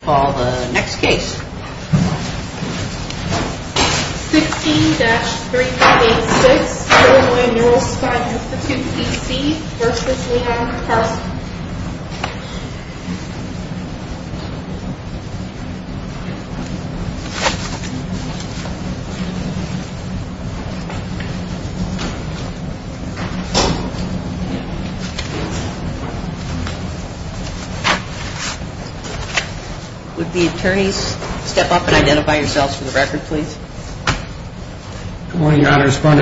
60-386 Illinois Nuerospine Institute, P.C. v. Leon Carson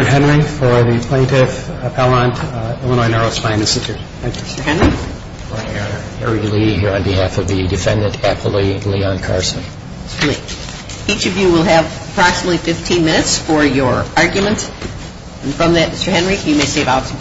Attorney for the Plaintiff Appellant, Illinois Nuerospine Institute, P.C. v. Leon Carson 60-386 Illinois Nuerospine Institute, P.C. v. Leon Carson In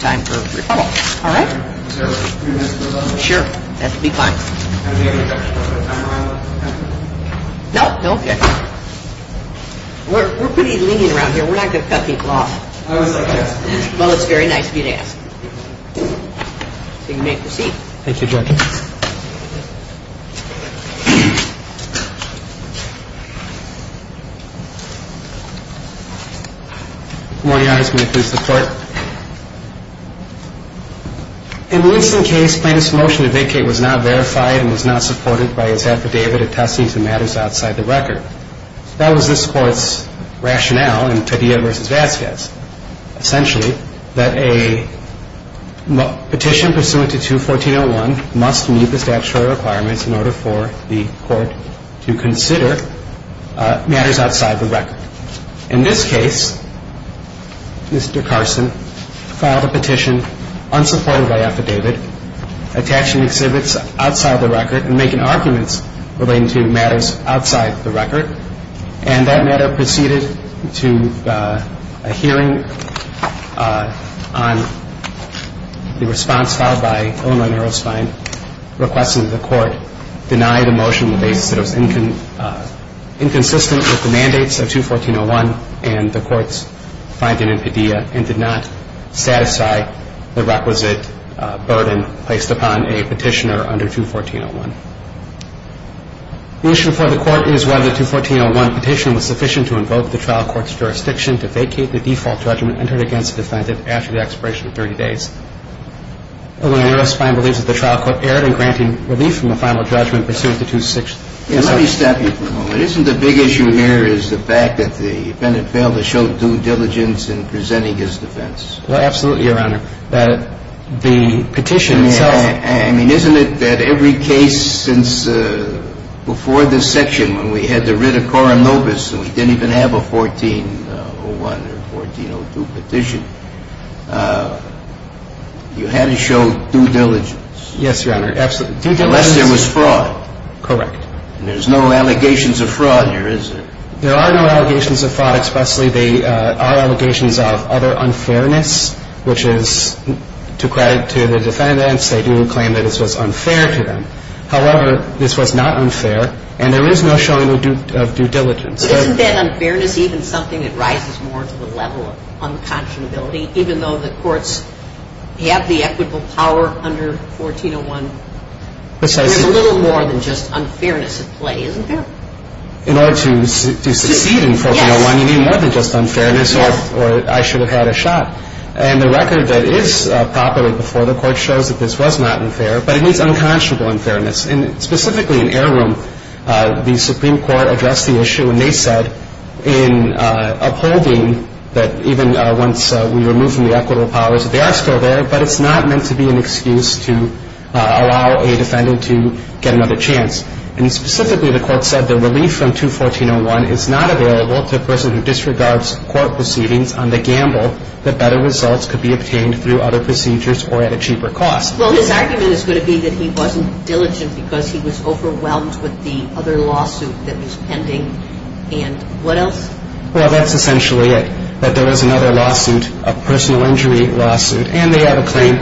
this case, the plaintiff's motion to vacate was not verified and was not supported by his affidavit. He was therefore entitled to find in Motion 4A to reduce his guilty and had to suspend state action on separate charges. In addition, the Unlawful Commodity, the phrase for which I use in most of the testament was going back to 214.01, was outstandingly inappropriate, none of the attesting to matters outside the record. And that matter proceeded to a hearing on the response filed by Illinois Narrowspine, requesting that the court deny the motion on the basis that it was inconsistent with the mandates of 214.01 and the court's finding in pedia and did not satisfy the requisite burden placed upon a petitioner under 214.01. The issue for the court is whether the 214.01 petition was sufficient to invoke the trial court's jurisdiction to vacate the default judgment entered against the defendant after the expiration of 30 days. Illinois Narrowspine believes that the trial court erred in granting relief from the final judgment pursuant to 216. Let me stop you for a moment. Isn't the big issue here is the fact that the defendant failed to show due diligence in presenting his defense? Well, absolutely, Your Honor. I mean, isn't it that every case since before this section, when we had the writ of coram nobis and we didn't even have a 1401 or 1402 petition, you had to show due diligence? Yes, Your Honor, absolutely. Due diligence. Unless there was fraud. Correct. And there's no allegations of fraud here, is there? There are no allegations of fraud, especially the allegations of other unfairness, which is to credit to the defendants, they do claim that this was unfair to them. However, this was not unfair, and there is no showing of due diligence. But isn't that unfairness even something that rises more to the level of unconscionability, even though the courts have the equitable power under 1401? Precisely. There's a little more than just unfairness at play, isn't there? In order to succeed in 1401, you need more than just unfairness or I should have had a shot. And the record that is properly before the court shows that this was not unfair, but it is unconscionable unfairness. And specifically in heirloom, the Supreme Court addressed the issue, and they said in upholding that even once we remove from the equitable powers, they are still there, but it's not meant to be an excuse to allow a defendant to get another chance. And specifically the court said the relief from 21401 is not available to a person who disregards court proceedings on the gamble that better results could be obtained through other procedures or at a cheaper cost. Well, his argument is going to be that he wasn't diligent because he was overwhelmed with the other lawsuit that was pending. And what else? Well, that's essentially it, that there was another lawsuit, a personal injury lawsuit, and they have a claim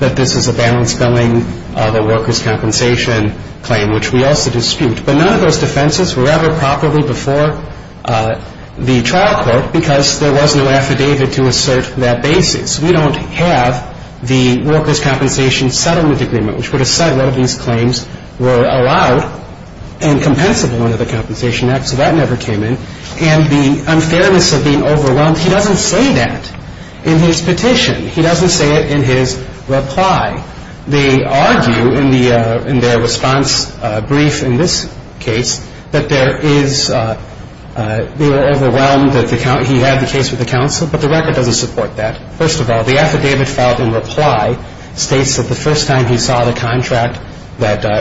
that this is a balance billing, the workers' compensation claim, which we also dispute. But none of those defenses were ever properly before the trial court because there was no affidavit to assert that basis. We don't have the workers' compensation settlement agreement, which would have said one of these claims were allowed and compensable under the Compensation Act, so that never came in. And the unfairness of being overwhelmed, he doesn't say that in his petition. He doesn't say it in his reply. They argue in their response brief in this case that they were overwhelmed that he had the case with the counsel, but the record doesn't support that. First of all, the affidavit filed in reply states that the first time he saw the contract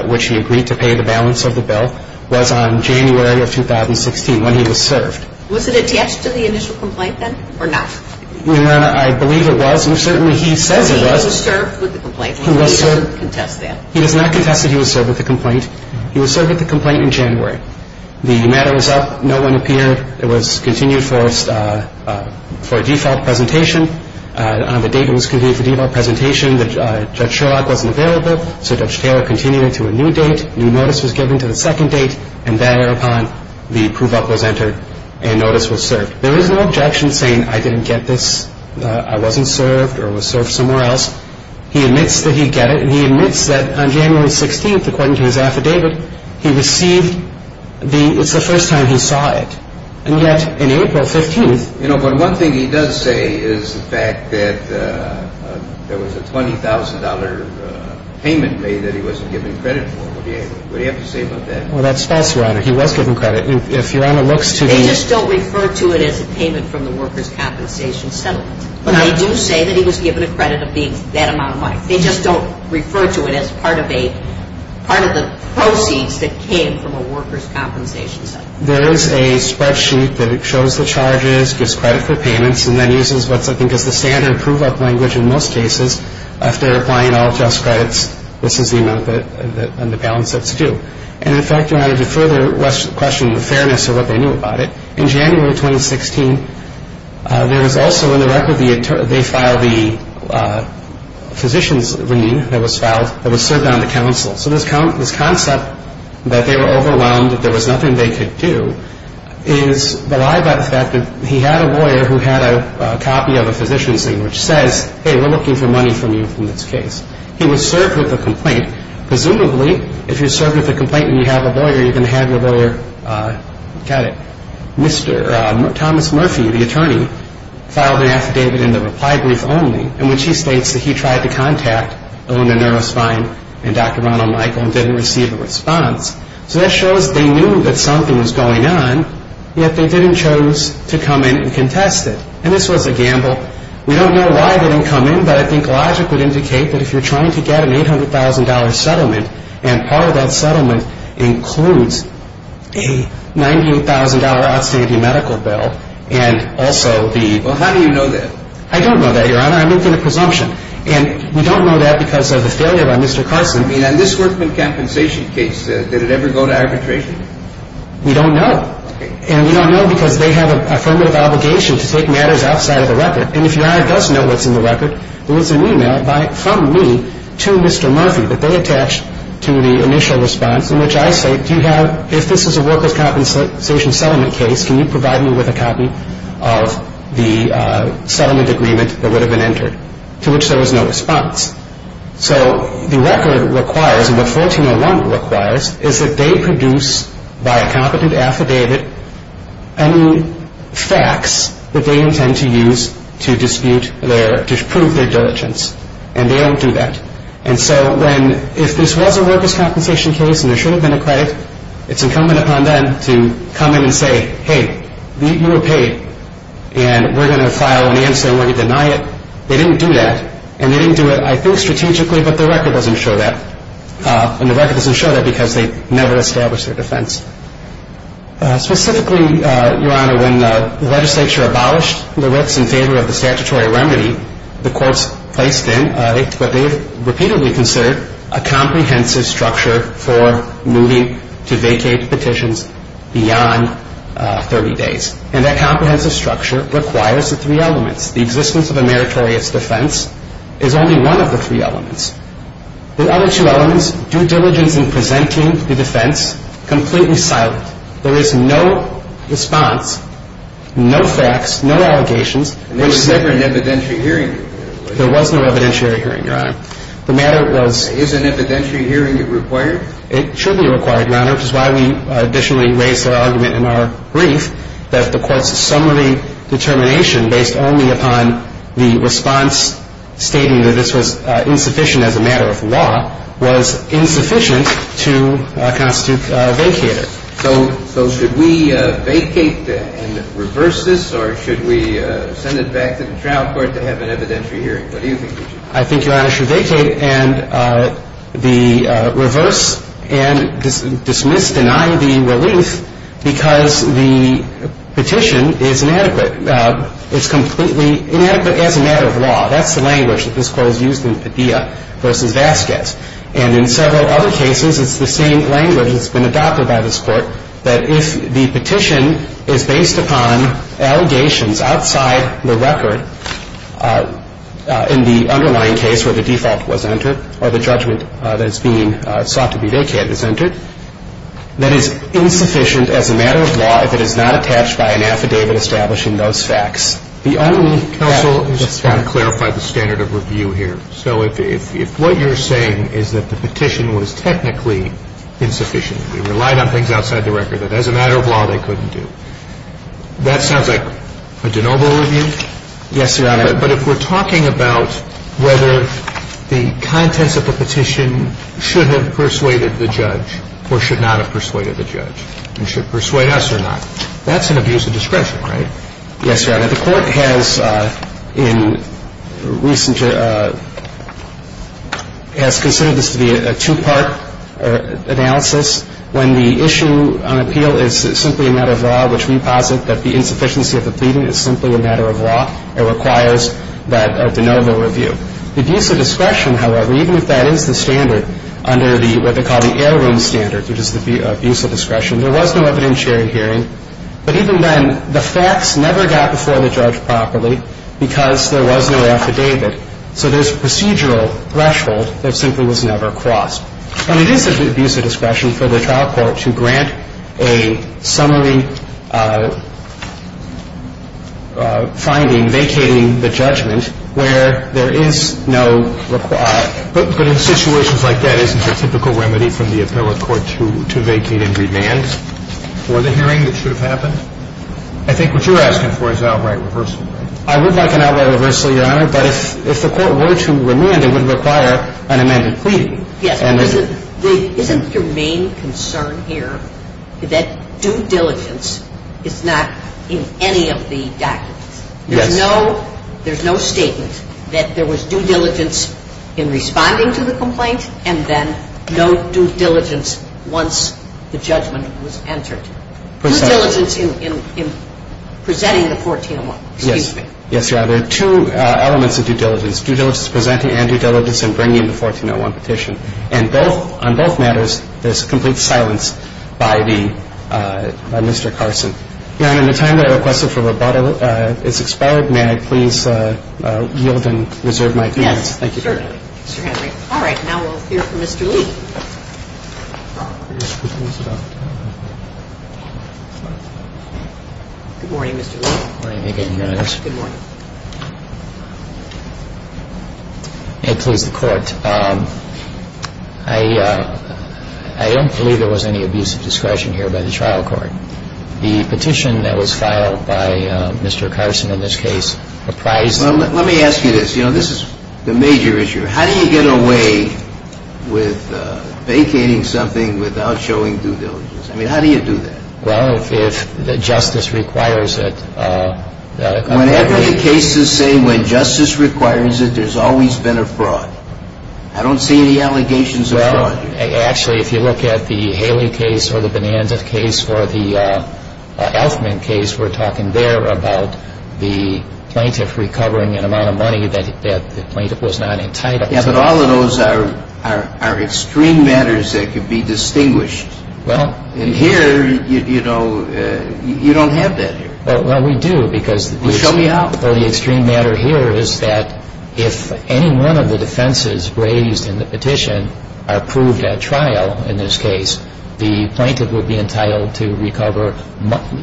which he agreed to pay the balance of the bill was on January of 2016 when he was served. Was it attached to the initial complaint then or not? I believe it was, and certainly he says it was. He was served with the complaint. He doesn't contest that. He does not contest that he was served with the complaint. He was served with the complaint in January. The matter was up. No one appeared. It was continued for a default presentation. On the date it was continued for default presentation, Judge Sherlock wasn't available, so Judge Taylor continued it to a new date. A new notice was given to the second date, and thereupon the proof of was entered, and notice was served. There is no objection saying I didn't get this, I wasn't served or was served somewhere else. He admits that he did get it, and he admits that on January 16th, according to his affidavit, he received the, it's the first time he saw it, and yet in April 15th. You know, but one thing he does say is the fact that there was a $20,000 payment made that he wasn't given credit for. What do you have to say about that? Well, that's false, Your Honor. He was given credit. If Your Honor looks to the They just don't refer to it as a payment from the workers' compensation settlement. But they do say that he was given a credit of being that amount of money. They just don't refer to it as part of a, part of the proceeds that came from a workers' compensation settlement. There is a spreadsheet that shows the charges, gives credit for payments, and then uses what I think is the standard prove-up language in most cases. If they're applying all just credits, this is the amount on the balance that's due. And, in fact, Your Honor, to further question the fairness of what they knew about it, in January 2016, there was also in the record the, they filed the physician's lien that was filed that was served on the counsel. So this concept that they were overwhelmed, that there was nothing they could do, is the lie about the fact that he had a lawyer who had a copy of a physician's lien which says, hey, we're looking for money from you in this case. He was served with a complaint. Presumably, if you're served with a complaint and you have a lawyer, you're going to have your lawyer, got it, Mr. Thomas Murphy, the attorney, filed an affidavit in the reply brief only in which he states that he tried to contact the woman in NeuroSpine and Dr. Ronald Michael and didn't receive a response. So that shows they knew that something was going on, yet they didn't choose to come in and contest it. And this was a gamble. We don't know why they didn't come in, but I think logic would indicate that if you're trying to get an $800,000 settlement and part of that settlement includes a $98,000 outstanding medical bill and also the- Well, how do you know that? I don't know that, Your Honor. I'm making a presumption. And we don't know that because of the failure by Mr. Carson. I mean, on this workman compensation case, did it ever go to arbitration? We don't know. Okay. And we don't know because they have an affirmative obligation to take matters outside of the record. And if Your Honor does know what's in the record, there was an e-mail from me to Mr. Murphy that they attached to the initial response in which I say, do you have, if this is a worker's compensation settlement case, can you provide me with a copy of the settlement agreement that would have been entered, to which there was no response. So the record requires, and what 1401 requires, is that they produce, by a competent affidavit, any facts that they intend to use to dispute their, to prove their diligence. And they don't do that. And so when, if this was a worker's compensation case and there should have been a credit, it's incumbent upon them to come in and say, hey, you were paid, and we're going to file an answer and we're going to deny it. They didn't do that. And they didn't do it, I think, strategically, but the record doesn't show that. And the record doesn't show that because they never established their defense. Specifically, Your Honor, when the legislature abolished the writs in favor of the statutory remedy, the courts placed in what they repeatedly considered a comprehensive structure for moving to vacate petitions beyond 30 days. And that comprehensive structure requires the three elements. The existence of a meritorious defense is only one of the three elements. The other two elements, due diligence in presenting the defense, completely silent. There is no response, no facts, no allegations. And there was never an evidentiary hearing? There was no evidentiary hearing, Your Honor. The matter was... Is an evidentiary hearing required? It should be required, Your Honor, which is why we additionally raise the argument in our brief that the court's summary determination based only upon the response stating that this was insufficient as a matter of law was insufficient to constitute a vacater. So should we vacate and reverse this or should we send it back to the trial court to have an evidentiary hearing? What do you think we should do? I think, Your Honor, we should vacate and reverse and dismiss, deny the relief because the petition is inadequate. That's the language that this Court has used in Padilla v. Vasquez. And in several other cases, it's the same language that's been adopted by this Court, that if the petition is based upon allegations outside the record in the underlying case where the default was entered or the judgment that's being sought to be vacated is entered, that is insufficient as a matter of law if it is not attached by an affidavit establishing those facts. The only counsel to clarify the standard of review here, so if what you're saying is that the petition was technically insufficient, they relied on things outside the record that as a matter of law they couldn't do, that sounds like a de novo review? Yes, Your Honor. But if we're talking about whether the contents of the petition should have persuaded the judge or should not have persuaded the judge and should persuade us or not, that's an abuse of discretion, right? Yes, Your Honor. The Court has, in recent years, has considered this to be a two-part analysis. When the issue on appeal is simply a matter of law, which we posit that the insufficiency of the pleading is simply a matter of law, it requires that de novo review. Abuse of discretion, however, even if that is the standard under the, what they call the heirloom standard, which is the abuse of discretion, there was no evidentiary hearing. But even then, the facts never got before the judge properly because there was no affidavit. So there's a procedural threshold that simply was never crossed. And it is an abuse of discretion for the trial court to grant a summary finding vacating the judgment where there is no, but in situations like that, I would like an outright reversal, Your Honor, but if the court were to remand, it would require an amended pleading. Yes. Isn't your main concern here that due diligence is not in any of the documents? Yes. There's no statement that there was due diligence in responding to the complaint and then no due diligence once the judgment was entered. Due diligence in presenting the 1401. Yes. Excuse me. Yes, Your Honor. There are two elements of due diligence. Due diligence in presenting and due diligence in bringing the 1401 petition. And both, on both matters, there's complete silence by the, by Mr. Carson. Your Honor, in the time that I requested for rebuttal, it's expired. May I please yield and reserve my appearance? Yes. Thank you. Mr. Henry. Mr. Henry. All right. Now we'll hear from Mr. Lee. Good morning, Mr. Lee. Good morning again, Your Honor. Good morning. May it please the Court, I don't believe there was any abuse of discretion here by the trial court. The petition that was filed by Mr. Carson in this case apprised the court. Well, let me ask you this. You know, this is the major issue. How do you get away with vacating something without showing due diligence? I mean, how do you do that? Well, if justice requires it. Whenever the case is saying when justice requires it, there's always been a fraud. I don't see any allegations of fraud here. Well, actually, if you look at the Haley case or the Bonanza case or the Elfman case, we're talking there about the plaintiff recovering an amount of money that the plaintiff was not entitled to. Yes, but all of those are extreme matters that could be distinguished. Well. And here, you know, you don't have that here. Well, we do because the extreme matter here is that if any one of the defenses raised in the petition are proved at trial in this case, the plaintiff would be entitled to recover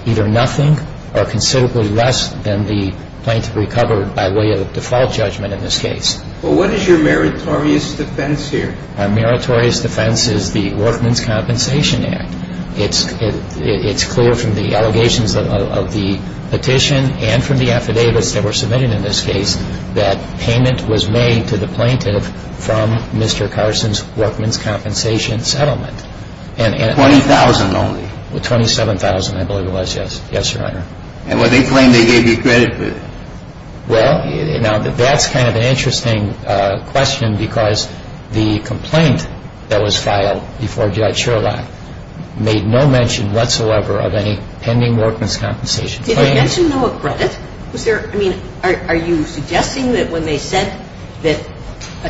either nothing or considerably less than the plaintiff recovered by way of default judgment in this case. Well, what is your meritorious defense here? Our meritorious defense is the Workman's Compensation Act. It's clear from the allegations of the petition and from the affidavits that were submitted in this case that payment was made to the plaintiff from Mr. Carson's workman's compensation settlement. Twenty thousand only. Twenty-seven thousand, I believe it was. Yes, Your Honor. And what they claim they gave you credit with. Well, now, that's kind of an interesting question because the complaint that was filed before Judge Sherlock made no mention whatsoever of any pending workman's compensation. Did he mention no credit? Was there, I mean, are you suggesting that when they said that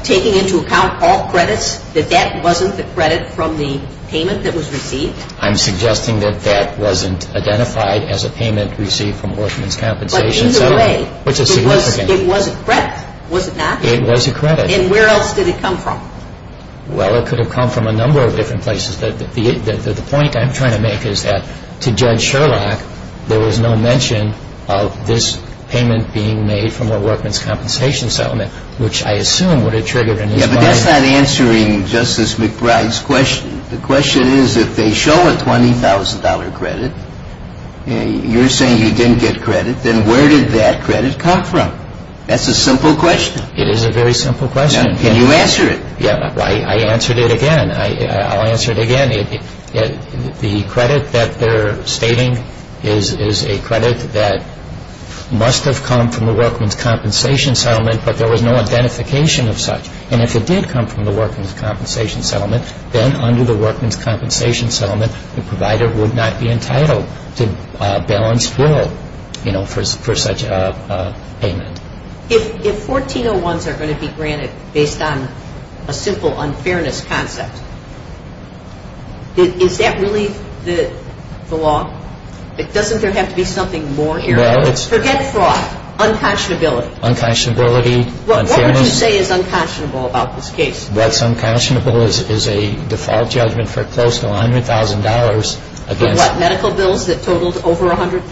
taking into account all credits that that wasn't the credit from the payment that was received? I'm suggesting that that wasn't identified as a payment received from workman's compensation settlement. But either way, it was a credit, was it not? It was a credit. And where else did it come from? Well, it could have come from a number of different places. The point I'm trying to make is that to Judge Sherlock, there was no mention of this payment being made from a workman's compensation settlement, which I assume would have triggered in his mind. Yeah, but that's not answering Justice McBride's question. The question is if they show a $20,000 credit, you're saying you didn't get credit, then where did that credit come from? That's a simple question. It is a very simple question. Now, can you answer it? Yeah, I answered it again. I'll answer it again. The credit that they're stating is a credit that must have come from the workman's compensation settlement, but there was no identification of such. And if it did come from the workman's compensation settlement, then under the workman's compensation settlement, the provider would not be entitled to a balanced bill, you know, for such a payment. If 1401s are going to be granted based on a simple unfairness concept, is that really the law? Doesn't there have to be something more here? Forget fraud. Unconscionability. Unconscionability. What would you say is unconscionable about this case? What's unconscionable is a default judgment for close to $100,000 against... What, medical bills that totaled over $100,000?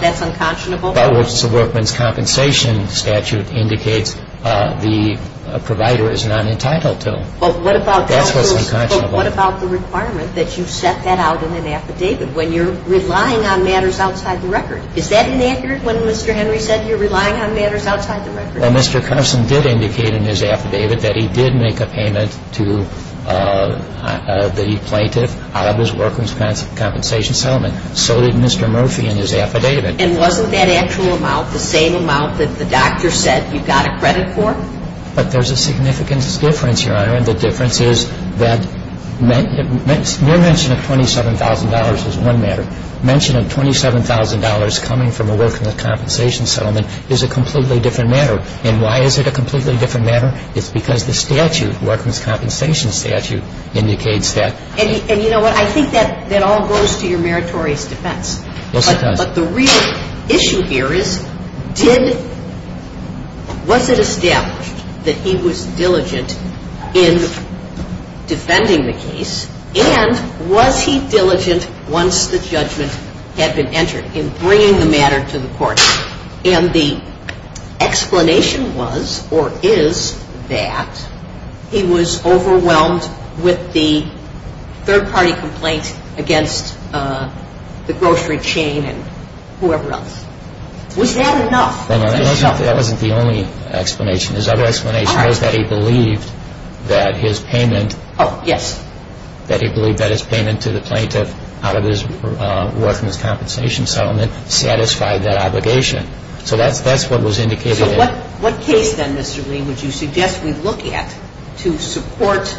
That's unconscionable? That was the workman's compensation statute indicates the provider is not entitled to. Well, what about... That's what's unconscionable. But what about the requirement that you set that out in an affidavit when you're relying on matters outside the record? Is that inaccurate when Mr. Henry said you're relying on matters outside the record? Well, Mr. Carson did indicate in his affidavit that he did make a payment to the plaintiff out of his workman's compensation settlement. So did Mr. Murphy in his affidavit. And wasn't that actual amount the same amount that the doctor said you got a credit for? But there's a significant difference, Your Honor. The difference is that mere mention of $27,000 is one matter. Mention of $27,000 coming from a workman's compensation settlement is a completely different matter. And why is it a completely different matter? It's because the statute, workman's compensation statute, indicates that. And you know what? I think that all goes to your meritorious defense. Yes, it does. But the real issue here is did – was it established that he was diligent in defending the case? And was he diligent once the judgment had been entered in bringing the matter to the court? And the explanation was or is that he was overwhelmed with the third-party complaint against the grocery chain and whoever else. Was that enough? That wasn't the only explanation. His other explanation was that he believed that his payment – Oh, yes. That he believed that his payment to the plaintiff out of his workman's compensation settlement satisfied that obligation. So that's what was indicated. So what case then, Mr. Green, would you suggest we look at to support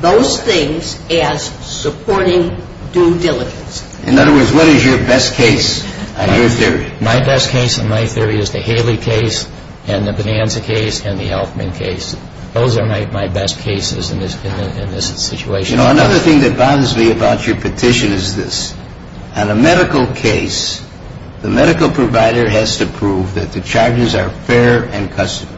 those things as supporting due diligence? In other words, what is your best case in your theory? My best case in my theory is the Haley case and the Bonanza case and the Elfman case. Those are my best cases in this situation. You know, another thing that bothers me about your petition is this. On a medical case, the medical provider has to prove that the charges are fair and customary.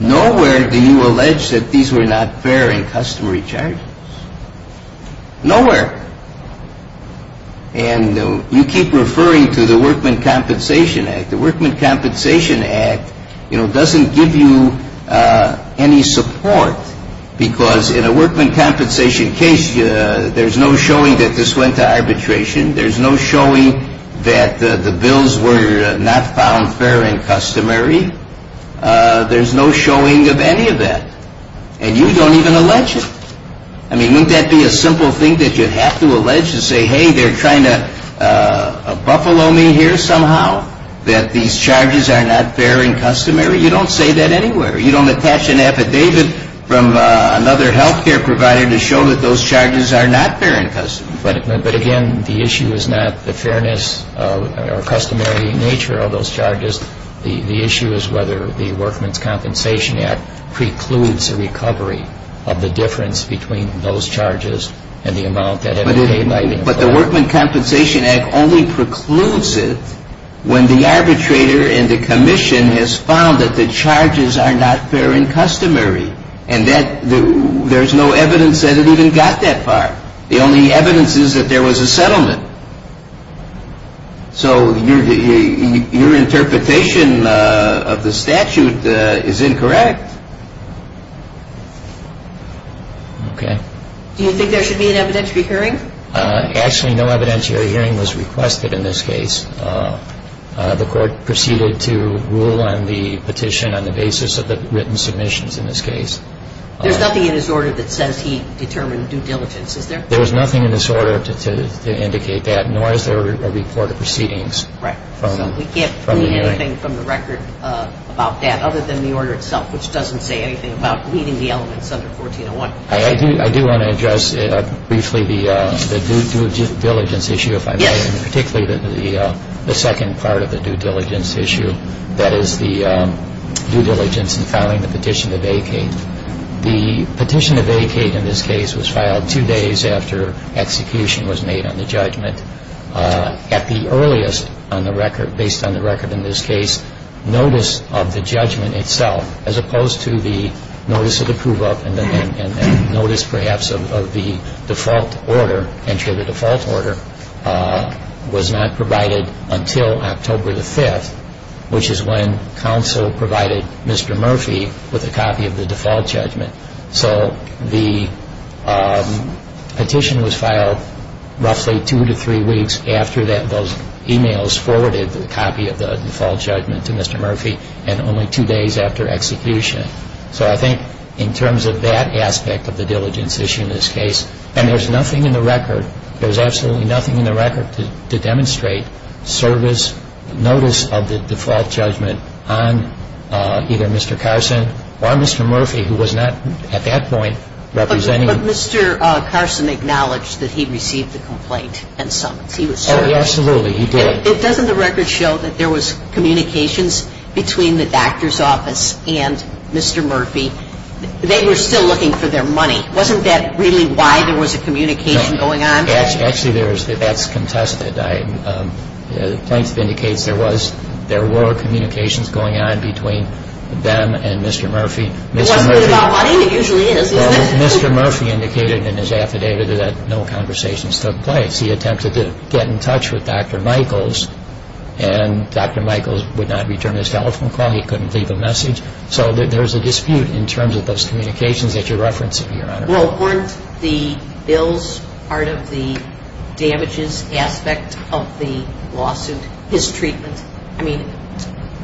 Nowhere do you allege that these were not fair and customary charges. Nowhere. And you keep referring to the Workman Compensation Act. The Workman Compensation Act, you know, doesn't give you any support because in a workman compensation case, there's no showing that this went to arbitration. There's no showing that the bills were not found fair and customary. There's no showing of any of that. And you don't even allege it. I mean, wouldn't that be a simple thing that you'd have to allege and say, hey, they're trying to buffalo me here somehow that these charges are not fair and customary? You don't say that anywhere. You don't attach an affidavit from another health care provider to show that those charges are not fair and customary. But, again, the issue is not the fairness or customary nature of those charges. The issue is whether the Workman's Compensation Act precludes a recovery of the difference between those charges But the Workman Compensation Act only precludes it when the arbitrator and the commission has found that the charges are not fair and customary. And there's no evidence that it even got that far. The only evidence is that there was a settlement. So your interpretation of the statute is incorrect. Okay. Do you think there should be an evidentiary hearing? Actually, no evidentiary hearing was requested in this case. The court proceeded to rule on the petition on the basis of the written submissions in this case. There's nothing in his order that says he determined due diligence, is there? There's nothing in this order to indicate that, nor is there a report of proceedings from the hearing. Right. So we can't plead anything from the record about that other than the order itself, which doesn't say anything about pleading the elements under 1401. I do want to address briefly the due diligence issue, if I may, and particularly the second part of the due diligence issue. That is the due diligence in filing the petition to vacate. The petition to vacate in this case was filed two days after execution was made on the judgment. At the earliest on the record, based on the record in this case, notice of the judgment itself, as opposed to the notice of approval and notice perhaps of the default order, entry of the default order, was not provided until October the 5th, which is when counsel provided Mr. Murphy with a copy of the default judgment. So the petition was filed roughly two to three weeks after those e-mails forwarded, which is when counsel provided Mr. Murphy with a copy of the default judgment to Mr. Murphy, and only two days after execution. So I think in terms of that aspect of the diligence issue in this case, and there's nothing in the record, there's absolutely nothing in the record to demonstrate service notice of the default judgment on either Mr. Carson or Mr. Murphy, who was not at that point representing. But Mr. Carson acknowledged that he received the complaint and summons. He was certain. Oh, absolutely. He did. Doesn't the record show that there was communications between the doctor's office and Mr. Murphy? They were still looking for their money. Wasn't that really why there was a communication going on? No. Actually, that's contested. Plaintiff indicates there were communications going on between them and Mr. Murphy. It wasn't about money. It usually is, isn't it? Well, Mr. Murphy indicated in his affidavit that no conversations took place. He attempted to get in touch with Dr. Michaels, and Dr. Michaels would not return his telephone call. He couldn't leave a message. So there's a dispute in terms of those communications that you're referencing, Your Honor. Well, weren't the bills part of the damages aspect of the lawsuit, his treatment? I mean,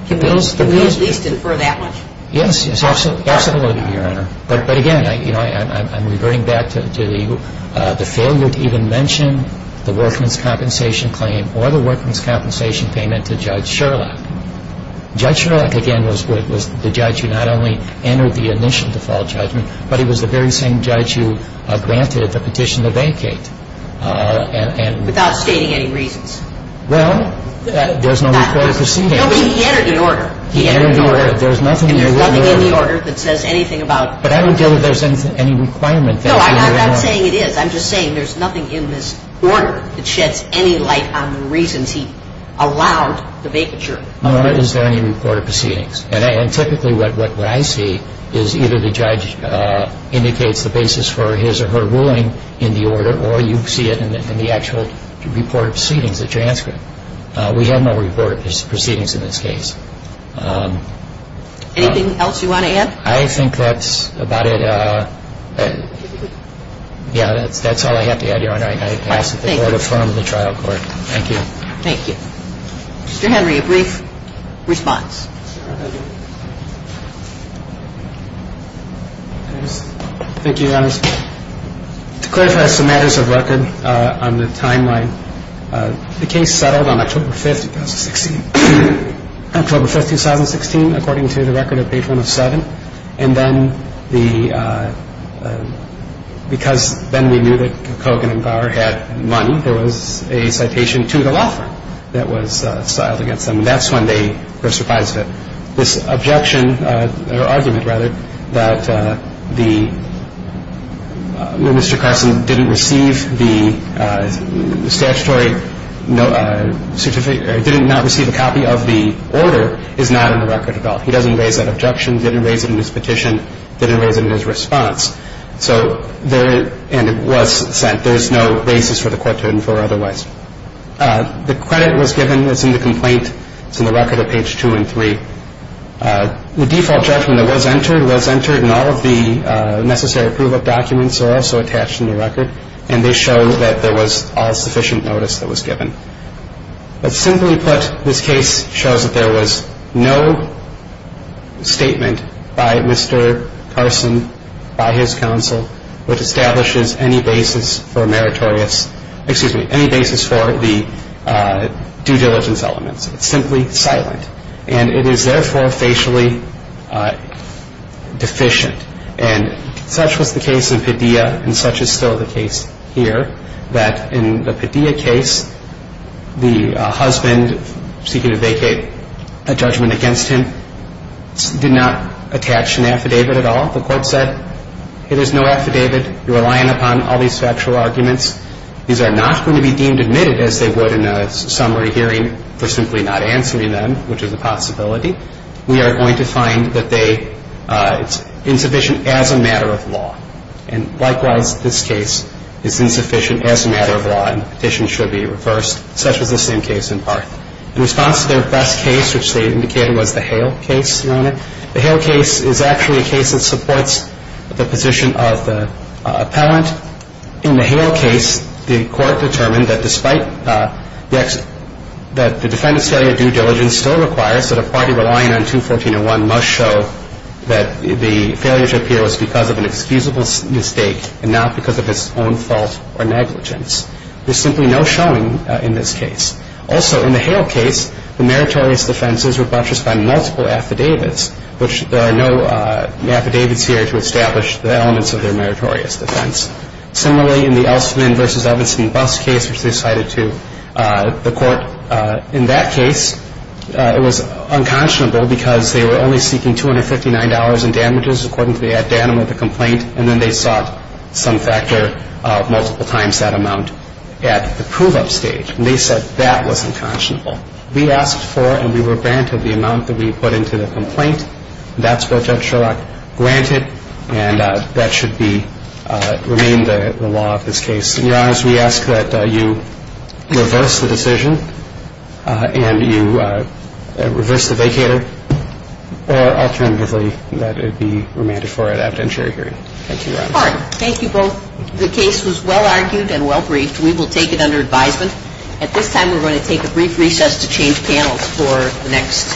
can we at least infer that much? Yes, absolutely, Your Honor. But, again, I'm reverting back to the failure to even mention the workman's compensation claim or the workman's compensation payment to Judge Sherlock. Judge Sherlock, again, was the judge who not only entered the initial default judgment, but he was the very same judge who granted the petition to vacate. Without stating any reasons. Well, there's no record of proceedings. No, but he entered an order. He entered an order. There's nothing in the order. And there's nothing in the order that says anything about it. But I don't feel that there's any requirement. No, I'm not saying it is. I'm just saying there's nothing in this order that sheds any light on the reasons he allowed the vacature. Nor is there any recorded proceedings. And typically what I see is either the judge indicates the basis for his or her ruling in the order or you see it in the actual report of proceedings, the transcript. We have no recorded proceedings in this case. Anything else you want to add? I think that's about it. Yeah, that's all I have to add, Your Honor. I ask that the Court affirm the trial court. Thank you. Thank you. Mr. Henry, a brief response. Thank you, Your Honor. To clarify some matters of record on the timeline, the case settled on October 5th, 2016. October 5th, 2016, according to the record of page 107. And then because then we knew that Kogan and Bauer had money, there was a citation to the law firm that was filed against them. And that's when they were surprised that this objection or argument, rather, that Mr. Carson didn't receive the statutory certificate or did not receive a copy of the order is not in the record at all. He doesn't raise that objection, didn't raise it in his petition, didn't raise it in his response. And it was sent. There is no basis for the Court to infer otherwise. The credit was given. It's in the complaint. It's in the record of page 2 and 3. The default judgment that was entered was entered, and all of the necessary approval documents are also attached in the record. And they show that there was all sufficient notice that was given. But simply put, this case shows that there was no statement by Mr. Carson, by his counsel, which establishes any basis for meritorious, excuse me, any basis for the due diligence elements. It's simply silent. And it is, therefore, facially deficient. And such was the case in Padilla, and such is still the case here, that in the Padilla case, the husband seeking to vacate a judgment against him did not attach an affidavit at all. The Court said, hey, there's no affidavit. You're relying upon all these factual arguments. These are not going to be deemed admitted, as they would in a summary hearing, for simply not answering them, which is a possibility. We are going to find that they, it's insufficient as a matter of law. And likewise, this case is insufficient as a matter of law, and the petition should be reversed, such was the same case in Parth. In response to their best case, which they indicated was the Hale case, Your Honor, the Hale case is actually a case that supports the position of the appellant. In the Hale case, the Court determined that despite the defendant's failure of due diligence still requires that a party relying on 214.01 must show that the failure to appear was because of an excusable mistake and not because of its own fault or negligence. There's simply no showing in this case. Also, in the Hale case, the meritorious defenses were buttressed by multiple affidavits, which there are no affidavits here to establish the elements of their meritorious defense. Similarly, in the Elstman v. Evans and Buss case, which they cited to the Court, in that case it was unconscionable because they were only seeking $259 in damages, according to the ad danum of the complaint, and then they sought some factor multiple times that amount at the prove-up stage. And they said that was unconscionable. We asked for and we were granted the amount that we put into the complaint. That's what Judge Sherlock granted, and that should remain the law of this case. And, Your Honor, as we ask that you reverse the decision and you reverse the vacator or alternatively that it be remanded for at an evidentiary hearing. Thank you, Your Honor. Pardon. Thank you both. The case was well argued and well briefed. We will take it under advisement. At this time, we're going to take a brief recess to change panels for the next.